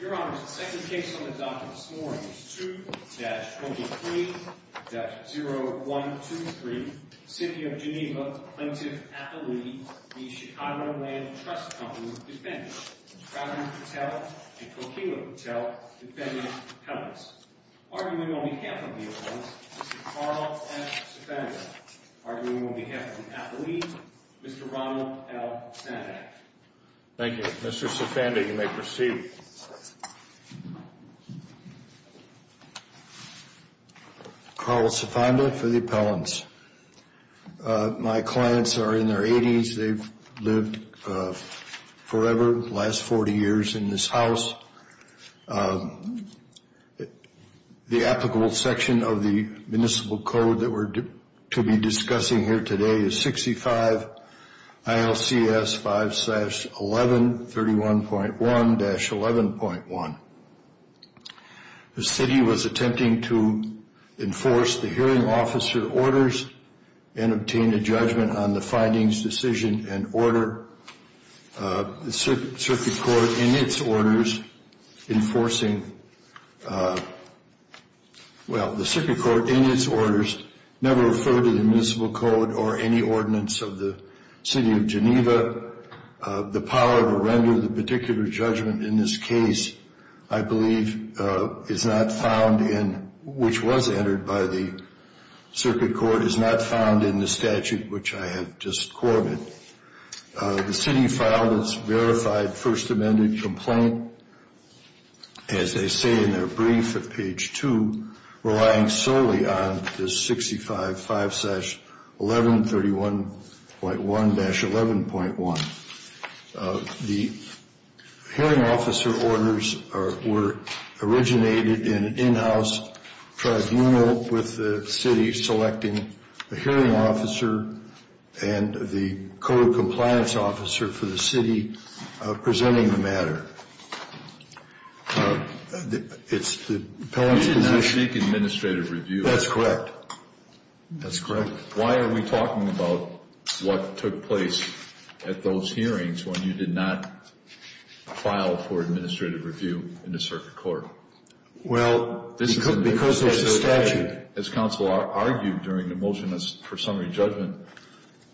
Your Honor, the second case on the docket this morning is 2-23-0123, City of Geneva, Plaintiff-Appellee, v. Chicago Land Trust Co. Defendant, Pradhan Patel and Kokila Patel, Defendant Helms. Arguing on behalf of the Appellants, Mr. Carl F. Sifanda. Arguing on behalf of the Appellee, Mr. Ronald L. Sanak. Thank you. Mr. Sifanda, you may proceed. Carl Sifanda for the Appellants. My clients are in their 80s. They've lived forever, the last 40 years in this house. The applicable section of the Municipal Code that we're to be discussing here today is 65 ILCS 5-11 31.1-11.1. The City was attempting to enforce the hearing officer orders and obtain a judgment on the findings, decision and order. The Circuit Court in its orders never referred to the Municipal Code or any ordinance of the City of Geneva. The power to render the particular judgment in this case, I believe, is not found in, which was entered by the Circuit Court, is not found in the statute which I have just quoted. The City filed its verified First Amendment complaint, as they say in their brief at page 2, relying solely on this 65 5-11 31.1-11.1. The hearing officer orders were originated in an in-house tribunal with the City selecting a hearing officer and the Code of Compliance officer for the City presenting the matter. You did not seek administrative review. That's correct. That's correct. Why are we talking about what took place at those hearings when you did not file for administrative review in the Circuit Court? Well, because there's a statute. As counsel argued during the motion for summary judgment,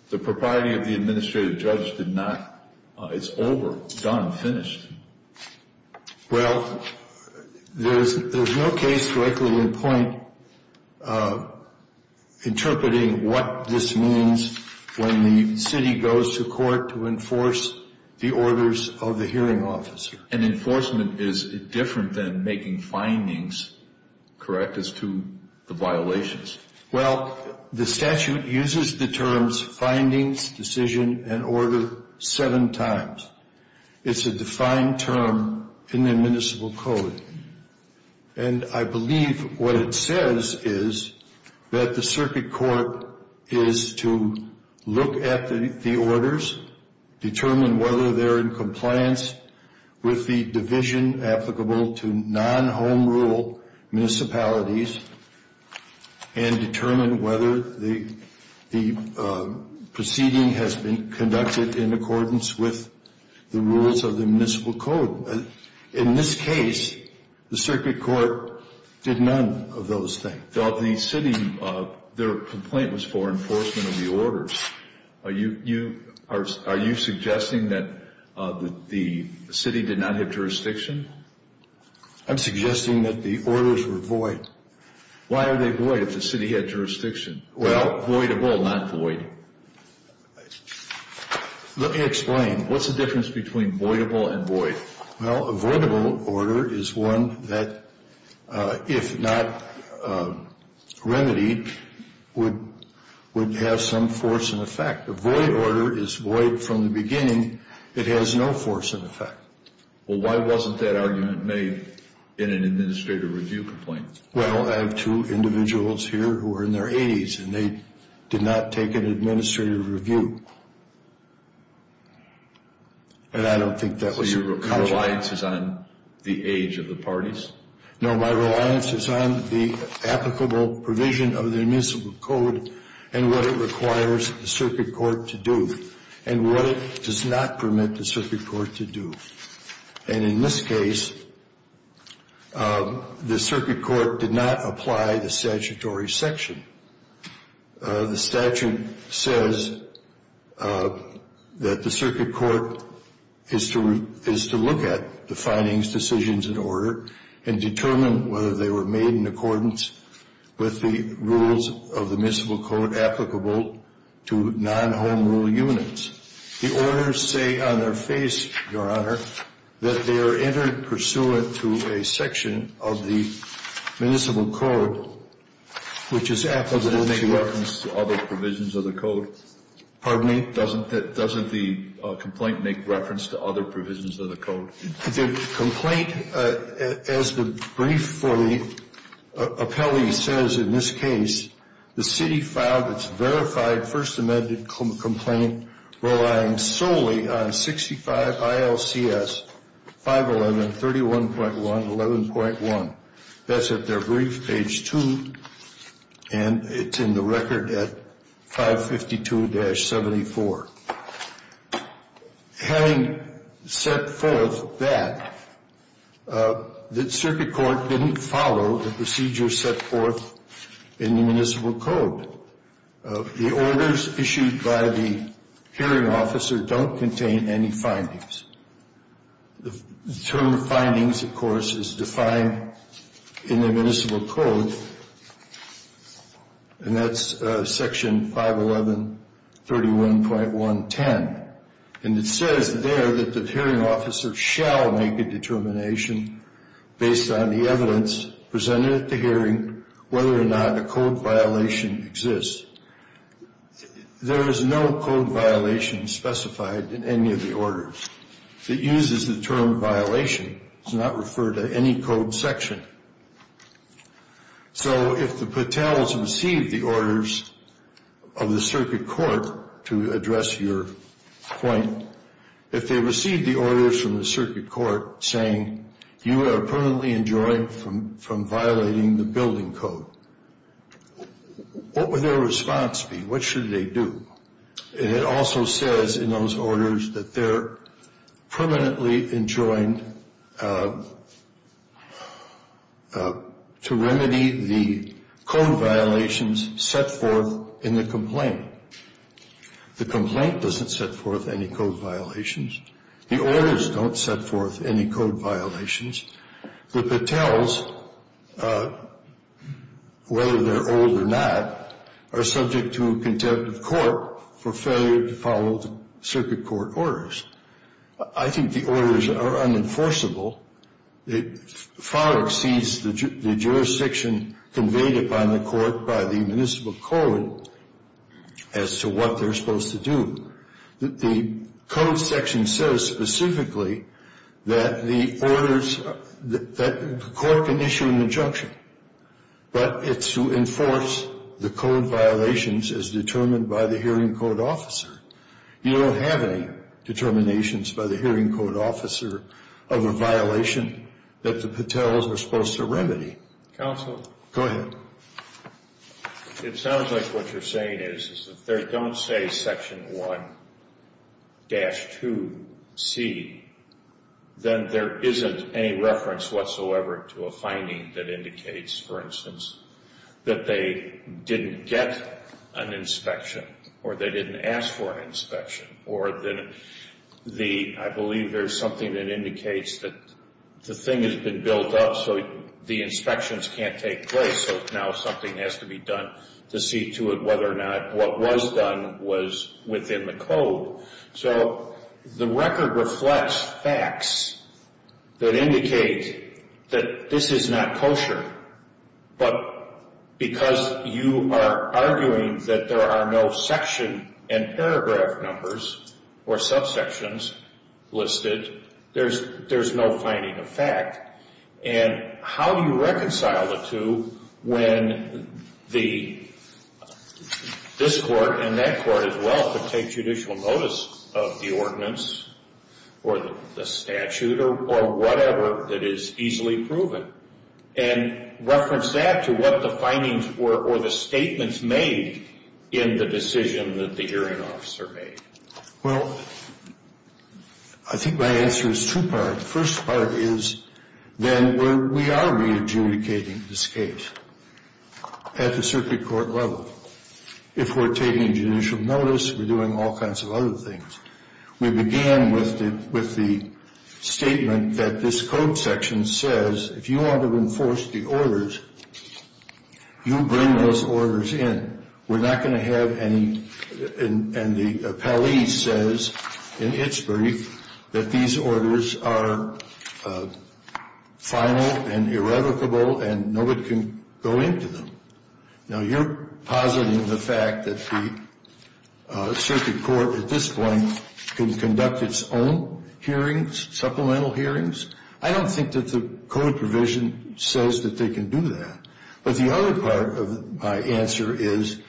the propriety of the administrative judge did not, it's over, done, finished. Well, there's no case directly in point interpreting what this means when the City goes to court to enforce the orders of the hearing officer. And enforcement is different than making findings, correct, as to the violations? Well, the statute uses the terms findings, decision, and order seven times. It's a defined term in the Municipal Code. And I believe what it says is that the Circuit Court is to look at the orders, determine whether they're in compliance with the division applicable to non-home rule municipalities, and determine whether the proceeding has been conducted in accordance with the rules of the Municipal Code. In this case, the Circuit Court did none of those things. The City, their complaint was for enforcement of the orders. Are you suggesting that the City did not have jurisdiction? I'm suggesting that the orders were void. Why are they void if the City had jurisdiction? Well, voidable, not void. Let me explain. What's the difference between voidable and void? Well, a voidable order is one that, if not remedied, would have some force and effect. A void order is void from the beginning. It has no force and effect. Well, why wasn't that argument made in an administrative review complaint? Well, I have two individuals here who are in their 80s, and they did not take an administrative review. And I don't think that was a good idea. So your reliance is on the age of the parties? No, my reliance is on the applicable provision of the Municipal Code and what it requires the Circuit Court to do, and what it does not permit the Circuit Court to do. And in this case, the Circuit Court did not apply the statutory section. The statute says that the Circuit Court is to look at the findings, decisions, and order and determine whether they were made in accordance with the rules of the Municipal Code applicable to non-home rule units. The orders say on their face, Your Honor, that they are entered pursuant to a section of the Municipal Code which is applicable to other provisions of the Code. Pardon me? Doesn't the complaint make reference to other provisions of the Code? The complaint, as the brief for the appellee says in this case, the City filed its verified First Amendment complaint relying solely on 65 ILCS 511, 31.1, 11.1. That's at their brief, page 2, and it's in the record at 552-74. Having set forth that, the Circuit Court didn't follow the procedure set forth in the Municipal Code. The orders issued by the hearing officer don't contain any findings. The term findings, of course, is defined in the Municipal Code, and that's Section 511, 31.1.10, and it says there that the hearing officer shall make a determination based on the evidence presented at the hearing whether or not a code violation exists. There is no code violation specified in any of the orders. It uses the term violation. It's not referred to any code section. So if the patels receive the orders of the Circuit Court to address your point, if they receive the orders from the Circuit Court saying, you are permanently enjoined from violating the building code, what would their response be? What should they do? And it also says in those orders that they're permanently enjoined to remedy the code violations set forth in the complaint. The complaint doesn't set forth any code violations. The orders don't set forth any code violations. The patels, whether they're old or not, are subject to contempt of court for failure to follow the Circuit Court orders. I think the orders are unenforceable. It far exceeds the jurisdiction conveyed upon the court by the Municipal Code as to what they're supposed to do. The code section says specifically that the court can issue an injunction, but it's to enforce the code violations as determined by the hearing code officer. You don't have any determinations by the hearing code officer of a violation that the patels are supposed to remedy. Counsel? Go ahead. It sounds like what you're saying is if they don't say Section 1-2C, then there isn't any reference whatsoever to a finding that indicates, for instance, that they didn't get an inspection or they didn't ask for an inspection, or that I believe there's something that indicates that the thing has been built up so the inspections can't take place, so now something has to be done to see to it whether or not what was done was within the code. So the record reflects facts that indicate that this is not kosher, but because you are arguing that there are no section and paragraph numbers or subsections listed, there's no finding of fact. And how do you reconcile the two when this court and that court as well can take judicial notice of the ordinance or the statute or whatever that is easily proven and reference that to what the findings were or the statements made in the decision that the hearing officer made? Well, I think my answer is two-part. The first part is then we are re-adjudicating this case at the circuit court level. If we're taking judicial notice, we're doing all kinds of other things. We began with the statement that this code section says if you want to enforce the orders, you bring those orders in. We're not going to have any, and the appellee says in its brief that these orders are final and irrevocable and nobody can go into them. Now, you're positing the fact that the circuit court at this point can conduct its own hearings, supplemental hearings. I don't think that the code provision says that they can do that. But the other part of my answer is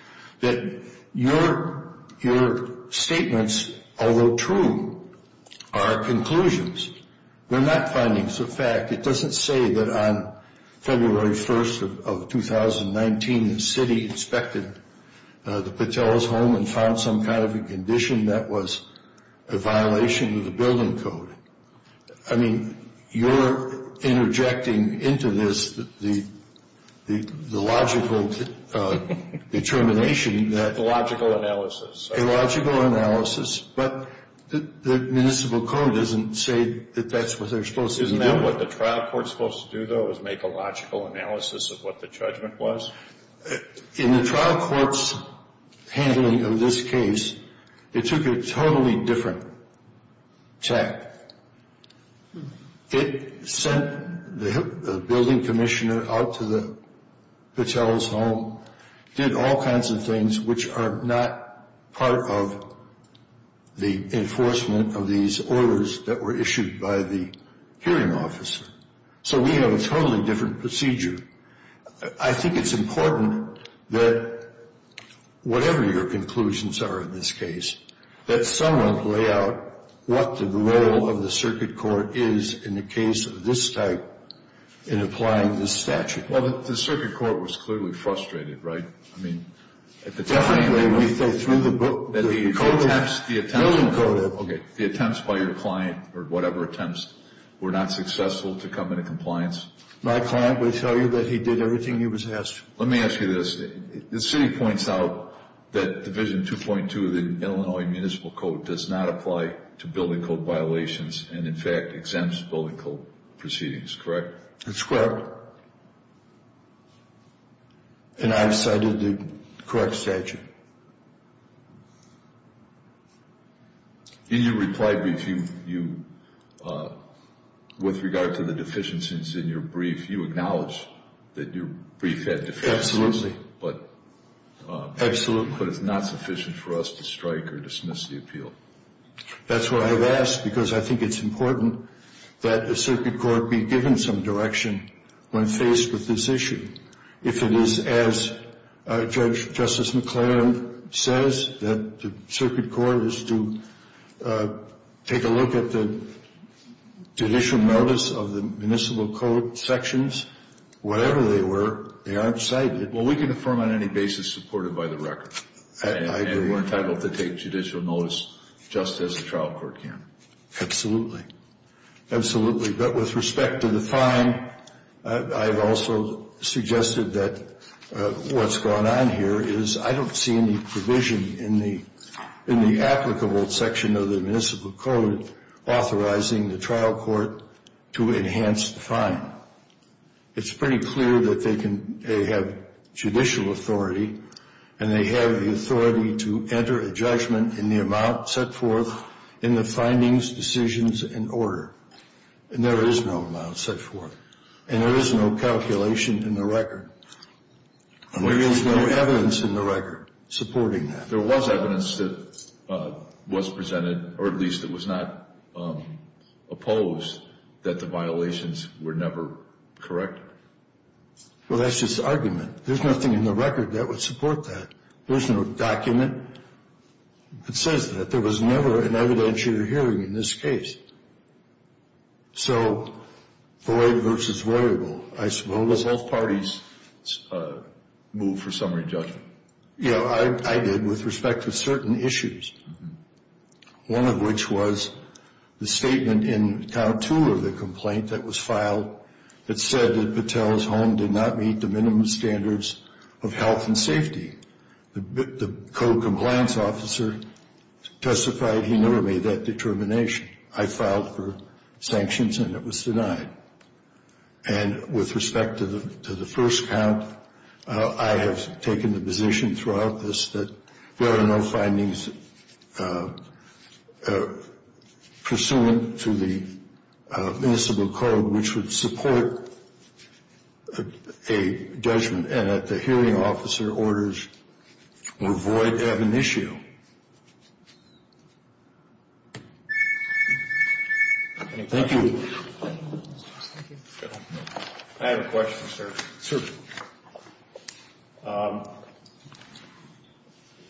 that your statements, although true, are conclusions. They're not findings of fact. It doesn't say that on February 1st of 2019 the city inspected the Patel's home and found some kind of a condition that was a violation of the building code. I mean, you're interjecting into this the logical determination that... A logical analysis. A logical analysis, but the municipal code doesn't say that that's what they're supposed to do. Isn't that what the trial court's supposed to do, though, is make a logical analysis of what the judgment was? In the trial court's handling of this case, it took a totally different tack. It sent the building commissioner out to the Patel's home, did all kinds of things which are not part of the enforcement of these orders that were issued by the hearing officer. So we have a totally different procedure. I think it's important that, whatever your conclusions are in this case, that someone lay out what the role of the circuit court is in the case of this type in applying this statute. Well, the circuit court was clearly frustrated, right? I mean, at the time... Definitely, through the building code... The attempts by your client, or whatever attempts, were not successful to come into compliance? My client would tell you that he did everything he was asked to. Let me ask you this. The city points out that Division 2.2 of the Illinois Municipal Code does not apply to building code violations and, in fact, exempts building code proceedings, correct? That's correct. And I've cited the correct statute. In your reply brief, with regard to the deficiencies in your brief, you acknowledged that your brief had deficiencies. Absolutely. But it's not sufficient for us to strike or dismiss the appeal. That's why I've asked, because I think it's important that the circuit court be given some direction when faced with this issue. If it is as Justice McLaren says, that the circuit court is to take a look at the judicial notice of the municipal code sections, whatever they were, they aren't cited. Well, we can affirm on any basis supported by the record. I agree. And we're entitled to take judicial notice just as a trial court can. Absolutely. Absolutely. But with respect to the fine, I've also suggested that what's going on here is I don't see any provision in the applicable section of the municipal code authorizing the trial court to enhance the fine. It's pretty clear that they have judicial authority, and they have the authority to enter a judgment in the amount set forth in the findings, decisions, and order. And there is no amount set forth. And there is no calculation in the record. And there is no evidence in the record supporting that. There was evidence that was presented, or at least it was not opposed, that the violations were never corrected. Well, that's just argument. There's nothing in the record that would support that. There's no document that says that. There was never an evidentiary hearing in this case. So void versus variable, I suppose. Was both parties moved for summary judgment? Yeah, I did with respect to certain issues, one of which was the statement in count two of the complaint that was filed that said that Patel's home did not meet the minimum standards of health and safety. The code compliance officer testified he never made that determination. I filed for sanctions, and it was denied. And with respect to the first count, I have taken the position throughout this that there are no findings pursuant to the municipal code which would support a judgment and that the hearing officer orders were void to have an issue. Thank you. I have a question, sir. Certainly.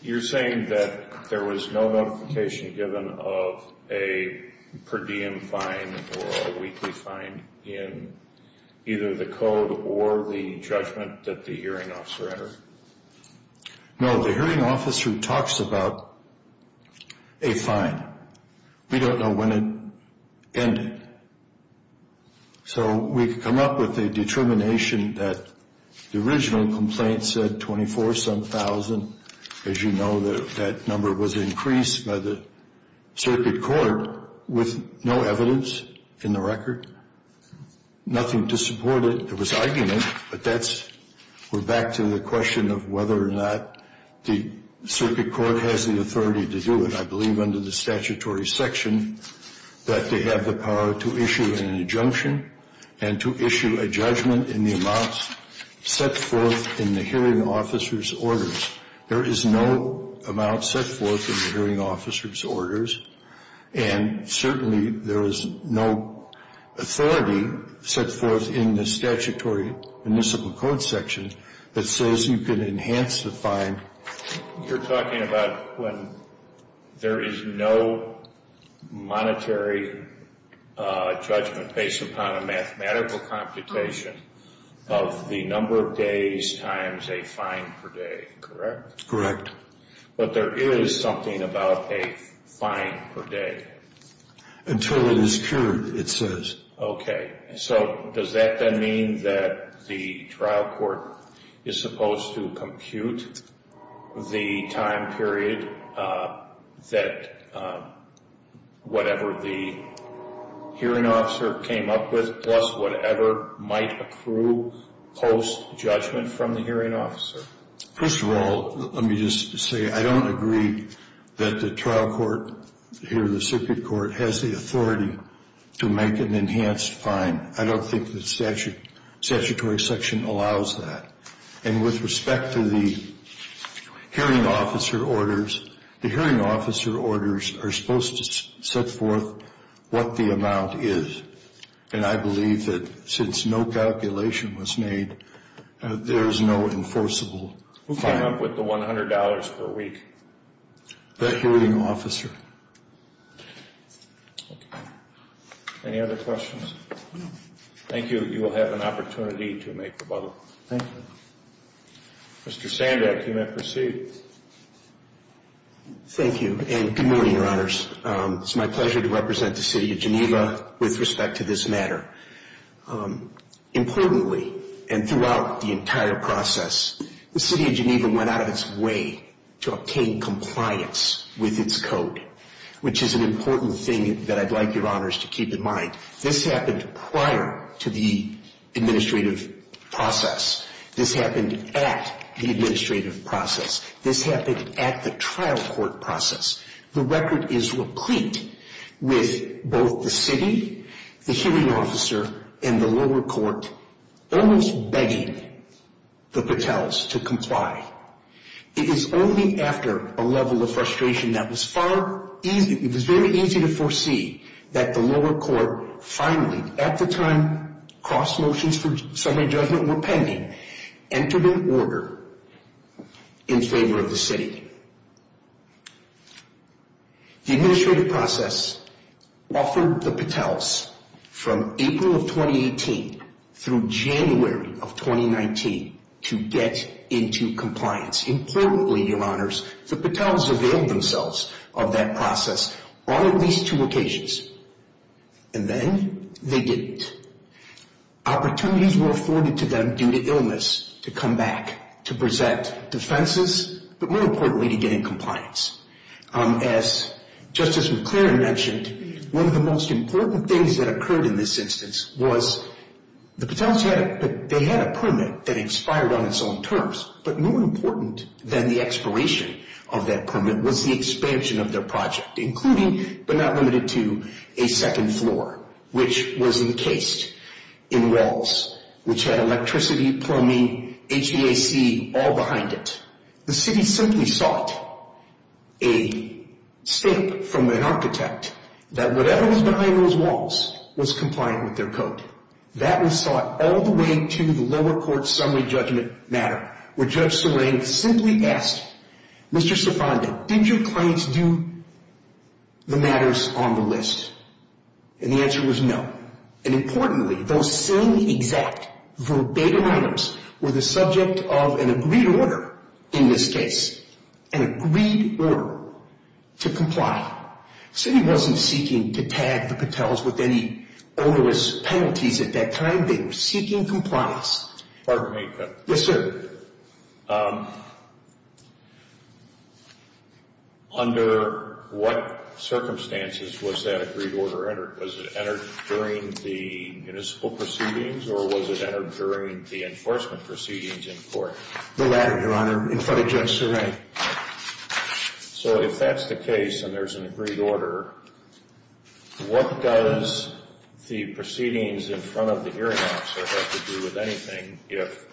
You're saying that there was no notification given of a per diem fine or a weekly fine in either the code or the judgment that the hearing officer entered? No, the hearing officer talks about a fine. We don't know when it ended. So we could come up with a determination that the original complaint said $24,000. As you know, that number was increased by the circuit court with no evidence in the record, nothing to support it. There was argument, but that's back to the question of whether or not the circuit court has the authority to do it. I believe under the statutory section that they have the power to issue an injunction and to issue a judgment in the amounts set forth in the hearing officer's orders. There is no amount set forth in the hearing officer's orders, and certainly there is no authority set forth in the statutory municipal code section that says you can enhance the fine. You're talking about when there is no monetary judgment based upon a mathematical computation of the number of days times a fine per day, correct? Correct. But there is something about a fine per day. Until it is cured, it says. Okay. So does that then mean that the trial court is supposed to compute the time period that whatever the hearing officer came up with plus whatever might accrue post-judgment from the hearing officer? First of all, let me just say I don't agree that the trial court here, the circuit court, has the authority to make an enhanced fine. I don't think the statutory section allows that. And with respect to the hearing officer orders, the hearing officer orders are supposed to set forth what the amount is. And I believe that since no calculation was made, there is no enforceable fine. Who came up with the $100 per week? The hearing officer. Okay. Any other questions? No. Thank you. You will have an opportunity to make rebuttal. Thank you. Mr. Sandak, you may proceed. Thank you, and good morning, Your Honors. It's my pleasure to represent the City of Geneva with respect to this matter. Importantly, and throughout the entire process, the City of Geneva went out of its way to obtain compliance with its code, which is an important thing that I'd like Your Honors to keep in mind. This happened prior to the administrative process. This happened at the administrative process. This happened at the trial court process. The record is replete with both the city, the hearing officer, and the lower court almost begging the patels to comply. It is only after a level of frustration that was very easy to foresee that the lower court finally, at the time cross motions for summary judgment were pending, entered an order in favor of the city. The administrative process offered the patels from April of 2018 through January of 2019 to get into compliance. Importantly, Your Honors, the patels availed themselves of that process on at least two occasions. And then they didn't. Opportunities were afforded to them due to illness to come back to present defenses, but more importantly, to get in compliance. As Justice McClaren mentioned, one of the most important things that occurred in this instance was the patels had a permit that expired on its own terms, but more important than the expiration of that permit was the expansion of their project, including but not limited to a second floor, which was encased in walls, which had electricity, plumbing, HVAC all behind it. The city simply sought a stamp from an architect that whatever was behind those walls was compliant with their code. That was sought all the way to the lower court summary judgment matter, where Judge Serang simply asked, Mr. Serfanda, did your clients do the matters on the list? And the answer was no. And importantly, those same exact verbatim items were the subject of an agreed order in this case, an agreed order to comply. The city wasn't seeking to tag the patels with any onerous penalties at that time. They were seeking compliance. Pardon me. Yes, sir. Under what circumstances was that agreed order entered? Was it entered during the municipal proceedings or was it entered during the enforcement proceedings in court? The latter, Your Honor, in front of Judge Serang. Okay. So if that's the case and there's an agreed order, what does the proceedings in front of the hearing officer have to do with anything if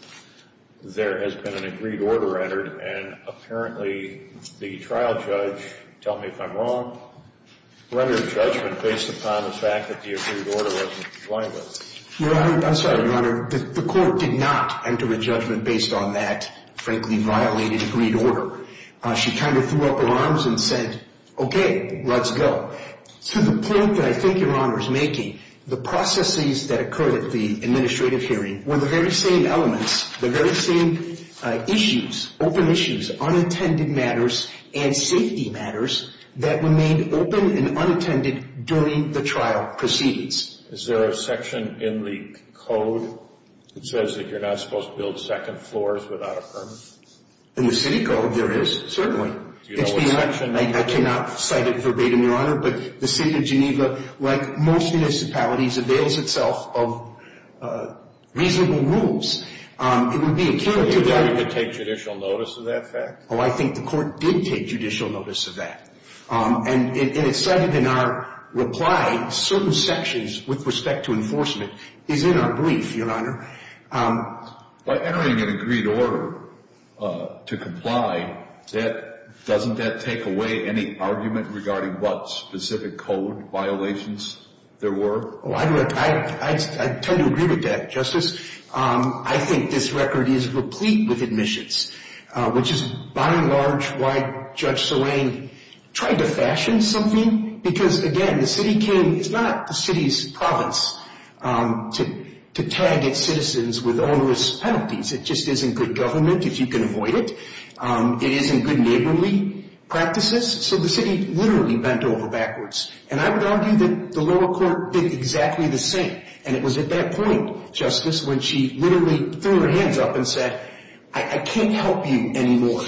there has been an agreed order entered and apparently the trial judge, tell me if I'm wrong, rendered judgment based upon the fact that the agreed order wasn't compliant with it? Your Honor, I'm sorry, Your Honor, the court did not enter a judgment based on that frankly violated agreed order. She kind of threw up her arms and said, okay, let's go. To the point that I think Your Honor is making, the processes that occurred at the administrative hearing were the very same elements, the very same issues, open issues, unintended matters, and safety matters that remained open and unintended during the trial proceedings. Is there a section in the code that says that you're not supposed to build second floors without a permit? In the city code there is, certainly. Do you know what section? I cannot cite it verbatim, Your Honor, but the City of Geneva, like most municipalities, avails itself of reasonable rules. It would be accurate to that. Do you think we could take judicial notice of that fact? Oh, I think the court did take judicial notice of that. And it's cited in our reply, certain sections with respect to enforcement is in our brief, Your Honor. By entering an agreed order to comply, doesn't that take away any argument regarding what specific code violations there were? I tend to agree with that, Justice. I think this record is replete with admissions, which is, by and large, why Judge Soraine tried to fashion something. Because, again, the city can – it's not the city's province to tag its citizens with onerous penalties. It just isn't good government if you can avoid it. It isn't good neighborly practices. So the city literally bent over backwards. And I would argue that the lower court did exactly the same. And it was at that point, Justice, when she literally threw her hands up and said, I can't help you anymore.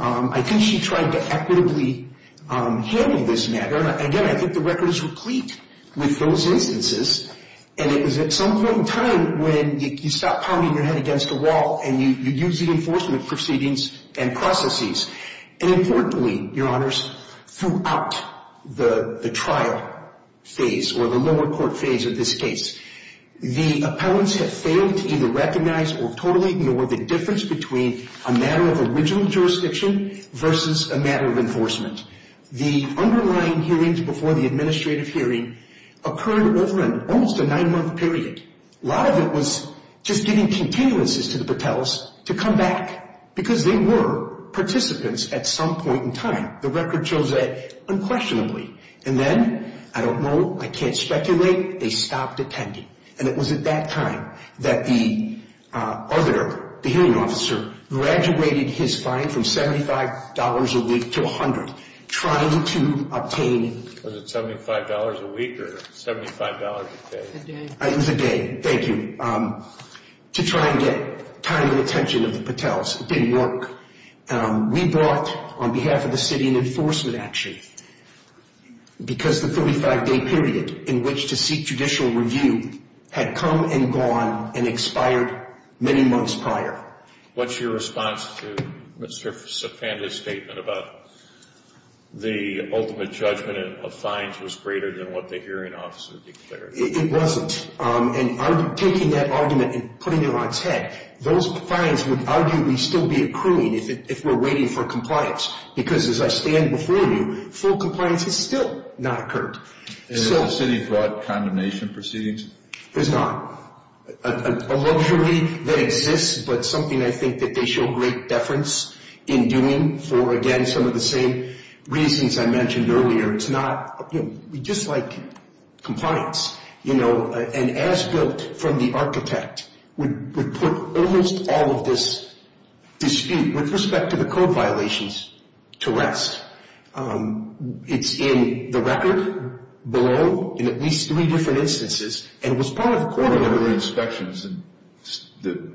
I think she tried to equitably handle this matter. And, again, I think the record is replete with those instances. And it was at some point in time when you stop pounding your head against a wall and you use the enforcement proceedings and processes. And, importantly, Your Honors, throughout the trial phase or the lower court phase of this case, the appellants have failed to either recognize or totally ignore the difference between a matter of original jurisdiction versus a matter of enforcement. The underlying hearings before the administrative hearing occurred over almost a nine-month period. A lot of it was just giving continuances to the Patels to come back because they were participants at some point in time. The record shows that unquestionably. And then, I don't know, I can't speculate, they stopped attending. And it was at that time that the other, the hearing officer, graduated his fine from $75 a week to $100, trying to obtain. Was it $75 a week or $75 a day? It was a day. It was a day, thank you, to try and get timely attention of the Patels. It didn't work. We brought, on behalf of the city, an enforcement action because the 35-day period in which to seek judicial review had come and gone and expired many months prior. What's your response to Mr. Sopanda's statement about the ultimate judgment of fines was greater than what the hearing officer declared? It wasn't. And taking that argument and putting it on its head, those fines would arguably still be accruing if we're waiting for compliance. Because as I stand before you, full compliance has still not occurred. And has the city brought condemnation proceedings? There's not. A luxury that exists, but something I think that they show great deference in doing for, again, some of the same reasons I mentioned earlier. We just like compliance. And as built from the architect, we put almost all of this dispute with respect to the code violations to rest. It's in the record below in at least three different instances. And it was part of the court order. There were inspections and the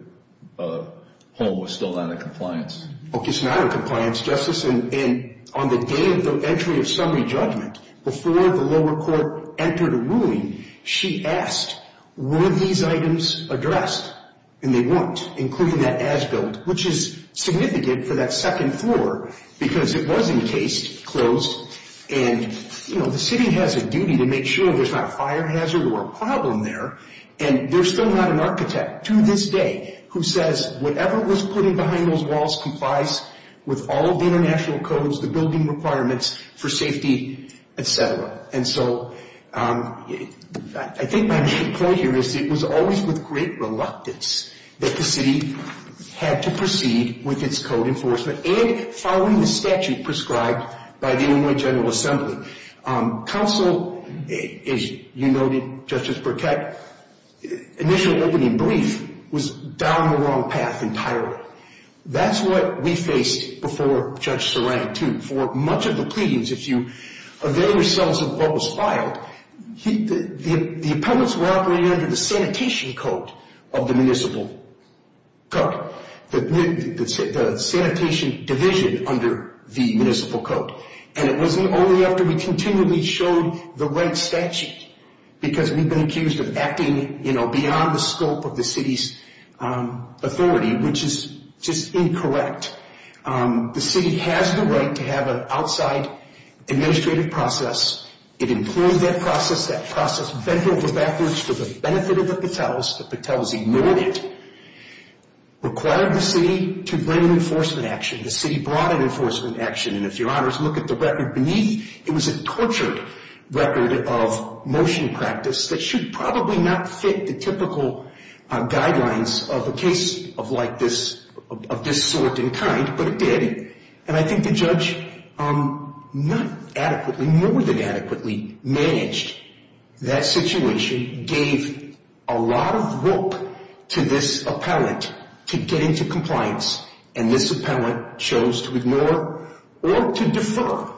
home was still not in compliance. Okay, it's not in compliance, Justice. And on the day of the entry of summary judgment, before the lower court entered a ruling, she asked, were these items addressed? And they weren't, including that as-built, which is significant for that second floor because it was encased, closed. And, you know, the city has a duty to make sure there's not a fire hazard or a problem there. And there's still not an architect to this day who says whatever was put in behind those walls complies with all of the international codes, the building requirements for safety, et cetera. And so I think my main point here is it was always with great reluctance that the city had to proceed with its code enforcement and following the statute prescribed by the Illinois General Assembly. Counsel, as you noted, Justice Burkett, initial opening brief was down the wrong path entirely. That's what we faced before Judge Saran too. For much of the pleadings, if you avail yourselves of what was filed, the appellants were operating under the sanitation code of the municipal code, the sanitation division under the municipal code. And it wasn't only after we continually showed the right statute, because we've been accused of acting, you know, beyond the scope of the city's authority, which is just incorrect. The city has the right to have an outside administrative process. It employed that process. That process bent over backwards for the benefit of the Patels. The Patels ignored it, required the city to bring enforcement action. The city brought in enforcement action. And if your honors look at the record beneath, it was a tortured record of motion practice that should probably not fit the typical guidelines of a case of like this, of this sort and kind, but it did. And I think the judge not adequately, more than adequately managed that situation, gave a lot of rope to this appellant to get into compliance. And this appellant chose to ignore or to defer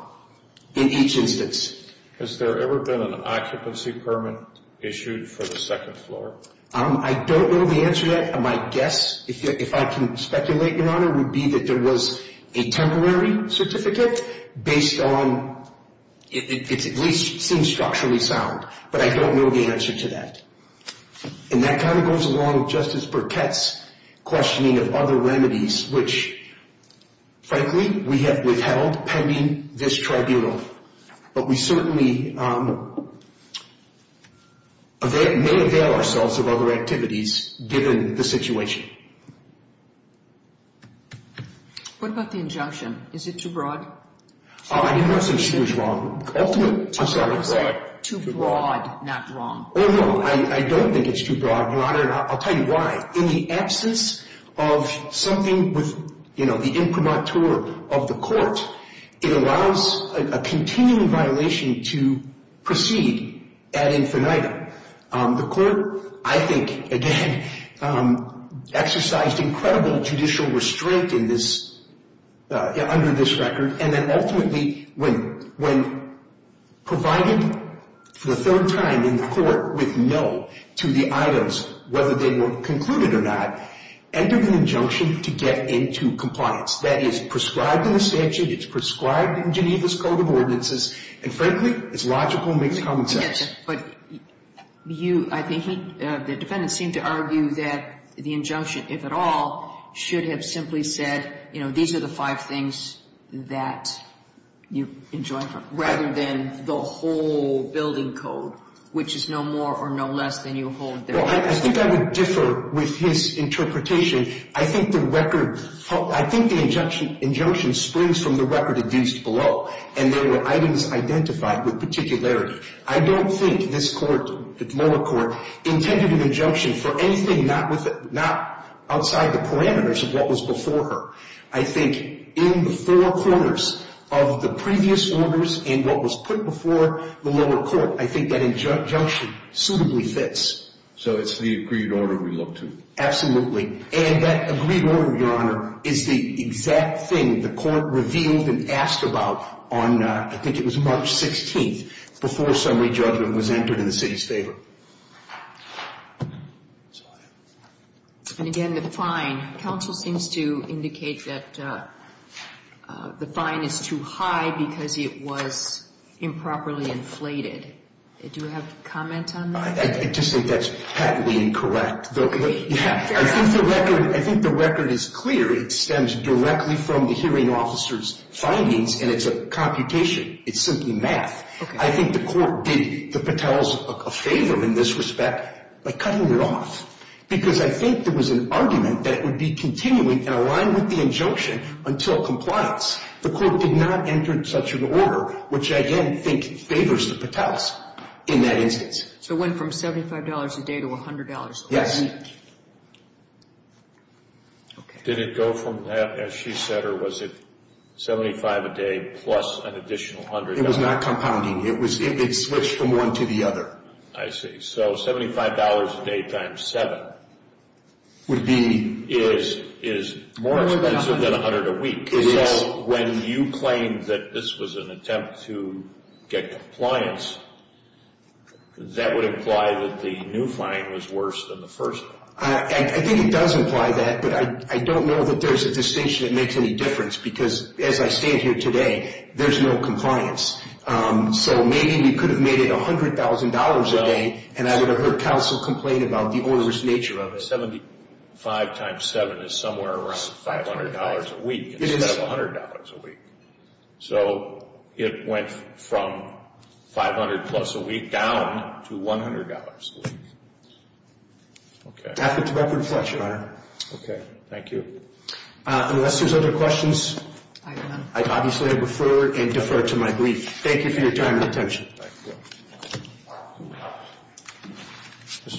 in each instance. Has there ever been an occupancy permit issued for the second floor? I don't know the answer to that. My guess, if I can speculate, your honor, would be that there was a temporary certificate based on, it at least seems structurally sound, but I don't know the answer to that. And that kind of goes along with Justice Burkett's questioning of other remedies, which, frankly, we have withheld pending this tribunal, but we certainly may avail ourselves of other activities given the situation. What about the injunction? Is it too broad? I didn't want to say too broad. Ultimate too broad. Too broad, not wrong. Oh, no, I don't think it's too broad, your honor, and I'll tell you why. In the absence of something with, you know, the imprimatur of the court, it allows a continuing violation to proceed ad infinitum. The court, I think, again, exercised incredible judicial restraint in this, under this record, and then ultimately, when provided for the third time in court with no to the items, whether they were concluded or not, entered an injunction to get into compliance. That is prescribed in the statute. It's prescribed in Geneva's Code of Ordinances, and frankly, it's logical and makes common sense. But you, I think, the defendant seemed to argue that the injunction, if at all, should have simply said, you know, these are the five things that you enjoin rather than the whole building code, which is no more or no less than you hold there. Well, I think I would differ with his interpretation. I think the record, I think the injunction springs from the record of use below, and there were items identified with particularity. I don't think this lower court intended an injunction for anything not outside the parameters of what was before her. I think in the four corners of the previous orders and what was put before the lower court, I think that injunction suitably fits. So it's the agreed order we look to? Absolutely. And that agreed order, Your Honor, is the exact thing the court revealed and asked about on, I think it was March 16th, before summary judgment was entered in the city's favor. And again, the fine. Counsel seems to indicate that the fine is too high because it was improperly inflated. Do you have a comment on that? I just think that's patently incorrect. I think the record is clear. It stems directly from the hearing officer's findings, and it's a computation. It's simply math. I think the court did the Patels a favor in this respect by cutting it off, because I think there was an argument that would be continuing and aligned with the injunction until compliance. The court did not enter such an order, which I again think favors the Patels in that instance. So it went from $75 a day to $100 a week? Yes. Did it go from that, as she said, or was it $75 a day plus an additional $100? It was not compounding. It switched from one to the other. I see. So $75 a day times 7 is more expensive than $100 a week. When you claim that this was an attempt to get compliance, that would imply that the new fine was worse than the first one. I think it does imply that, but I don't know that there's a distinction that makes any difference, because as I stand here today, there's no compliance. So maybe we could have made it $100,000 a day, and I would have heard counsel complain about the onerous nature of it. $75 times 7 is somewhere around $500 a week instead of $100 a week. So it went from $500 plus a week down to $100 a week. Okay. That's a direct reflection, Your Honor. Okay. Thank you. Unless there's other questions, I obviously defer and defer to my brief. Thank you for your time and attention. Thank you. Thank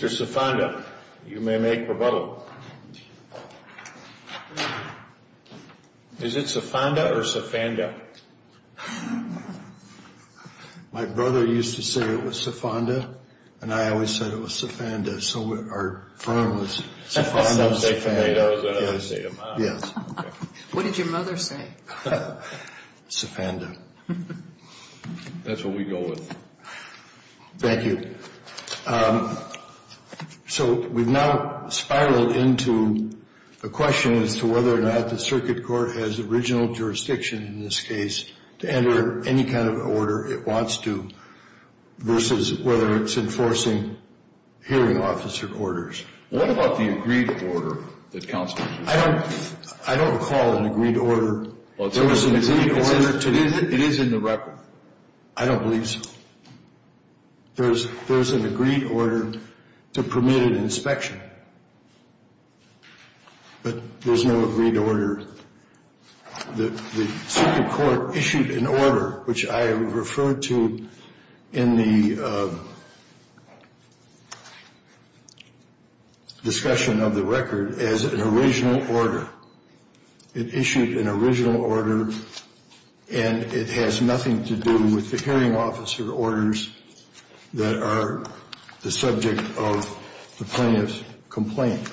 you. Mr. Cifanda, you may make rebuttal. Is it Cifanda or Cifanda? My brother used to say it was Cifanda, and I always said it was Cifanda. So our firm was Cifanda Cifanda. What did your mother say? Cifanda. That's what we go with. Thank you. So we've now spiraled into a question as to whether or not the circuit court has original jurisdiction in this case to enter any kind of order it wants to versus whether it's enforcing hearing officer quarters. What about the agreed order that counsel used? I don't recall an agreed order. It is in the record. I don't believe so. There's an agreed order to permit an inspection, but there's no agreed order. The circuit court issued an order, which I referred to in the discussion of the record, as an original order. It issued an original order, and it has nothing to do with the hearing officer orders that are the subject of the plaintiff's complaint.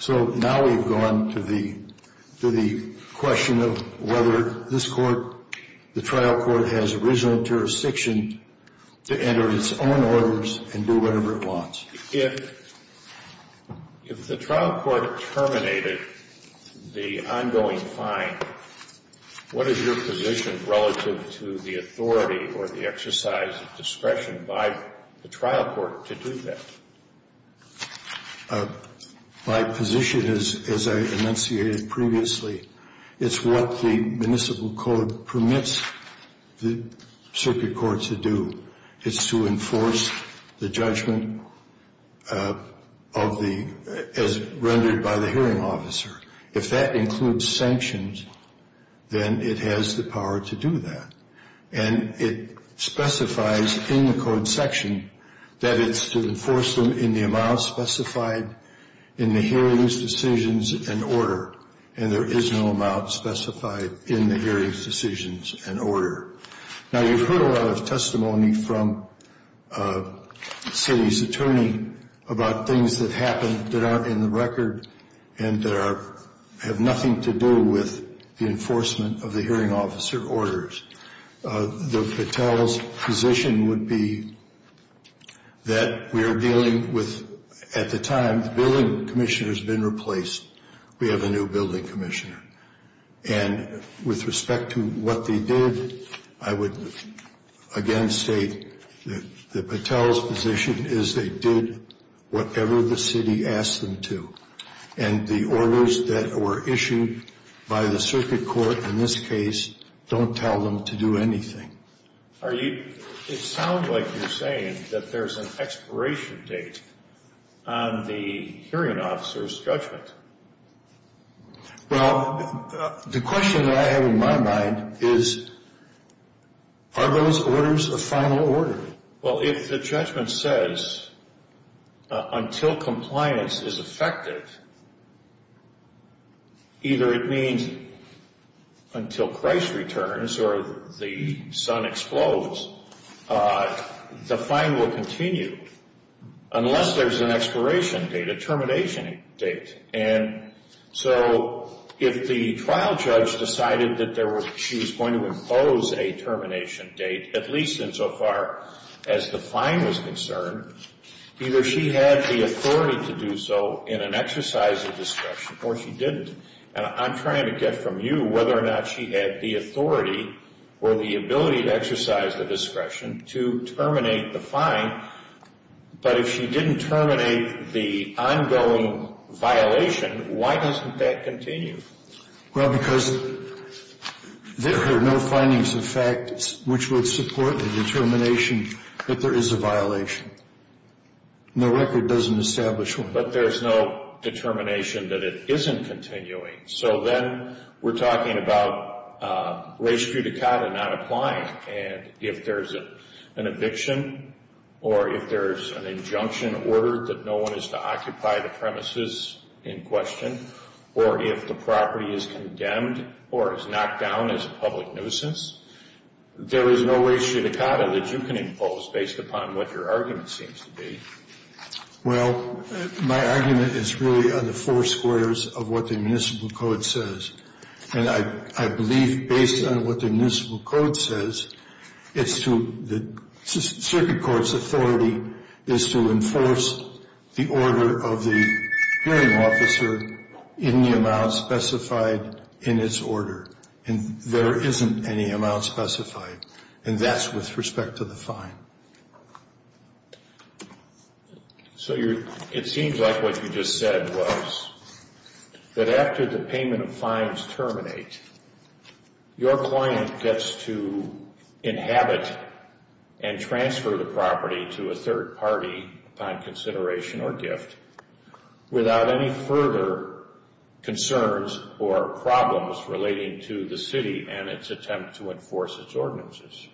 So now we've gone to the question of whether this court, the trial court, has original jurisdiction to enter its own orders and do whatever it wants. If the trial court terminated the ongoing fine, what is your position relative to the authority or the exercise of discretion by the trial court to do that? My position is, as I enunciated previously, it's what the municipal court permits the circuit court to do. It's to enforce the judgment as rendered by the hearing officer. If that includes sanctions, then it has the power to do that. And it specifies in the code section that it's to enforce them in the amount specified in the hearing's decisions and order, and there is no amount specified in the hearing's decisions and order. Now, you've heard a lot of testimony from the city's attorney about things that happened that aren't in the record and that have nothing to do with the enforcement of the hearing officer orders. The Patel's position would be that we are dealing with, at the time, the building commissioner has been replaced. We have a new building commissioner. And with respect to what they did, I would again state that the Patel's position is they did whatever the city asked them to. And the orders that were issued by the circuit court in this case don't tell them to do anything. It sounds like you're saying that there's an expiration date on the hearing officer's judgment. Well, the question that I have in my mind is, are those orders a final order? Well, if the judgment says until compliance is effective, either it means until Christ returns or the sun explodes, the fine will continue unless there's an expiration date, a termination date. And so if the trial judge decided that she was going to impose a termination date, at least insofar as the fine was concerned, either she had the authority to do so in an exercise of discretion or she didn't. And I'm trying to get from you whether or not she had the authority or the ability to exercise the discretion to terminate the fine. But if she didn't terminate the ongoing violation, why doesn't that continue? Well, because there are no findings of fact which would support the determination that there is a violation. And the record doesn't establish one. But there's no determination that it isn't continuing. So then we're talking about res judicata not applying. And if there's an eviction or if there's an injunction order that no one is to occupy the premises in question, or if the property is condemned or is knocked down as a public nuisance, there is no res judicata that you can impose based upon what your argument seems to be. Well, my argument is really on the four squares of what the municipal code says. And I believe based on what the municipal code says, it's to the circuit court's authority is to enforce the order of the hearing officer in the amount specified in its order. And there isn't any amount specified. And that's with respect to the fine. So it seems like what you just said was that after the payment of fines terminate, your client gets to inhabit and transfer the property to a third party upon consideration or gift without any further concerns or problems relating to the city and its attempt to enforce its ordinances.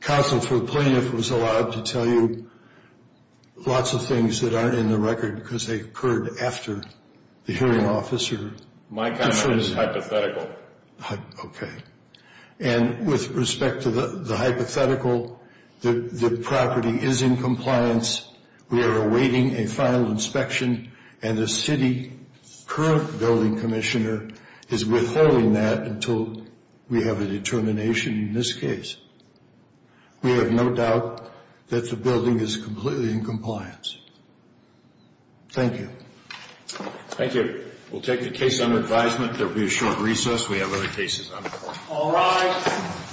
Counsel for the plaintiff was allowed to tell you lots of things that aren't in the record because they occurred after the hearing officer. My comment is hypothetical. Okay. And with respect to the hypothetical, the property is in compliance. We are awaiting a final inspection, and the city current building commissioner is withholding that until we have a determination in this case. We have no doubt that the building is completely in compliance. Thank you. Thank you. We'll take the case under advisement. There will be a short recess. We have other cases on the floor. All rise.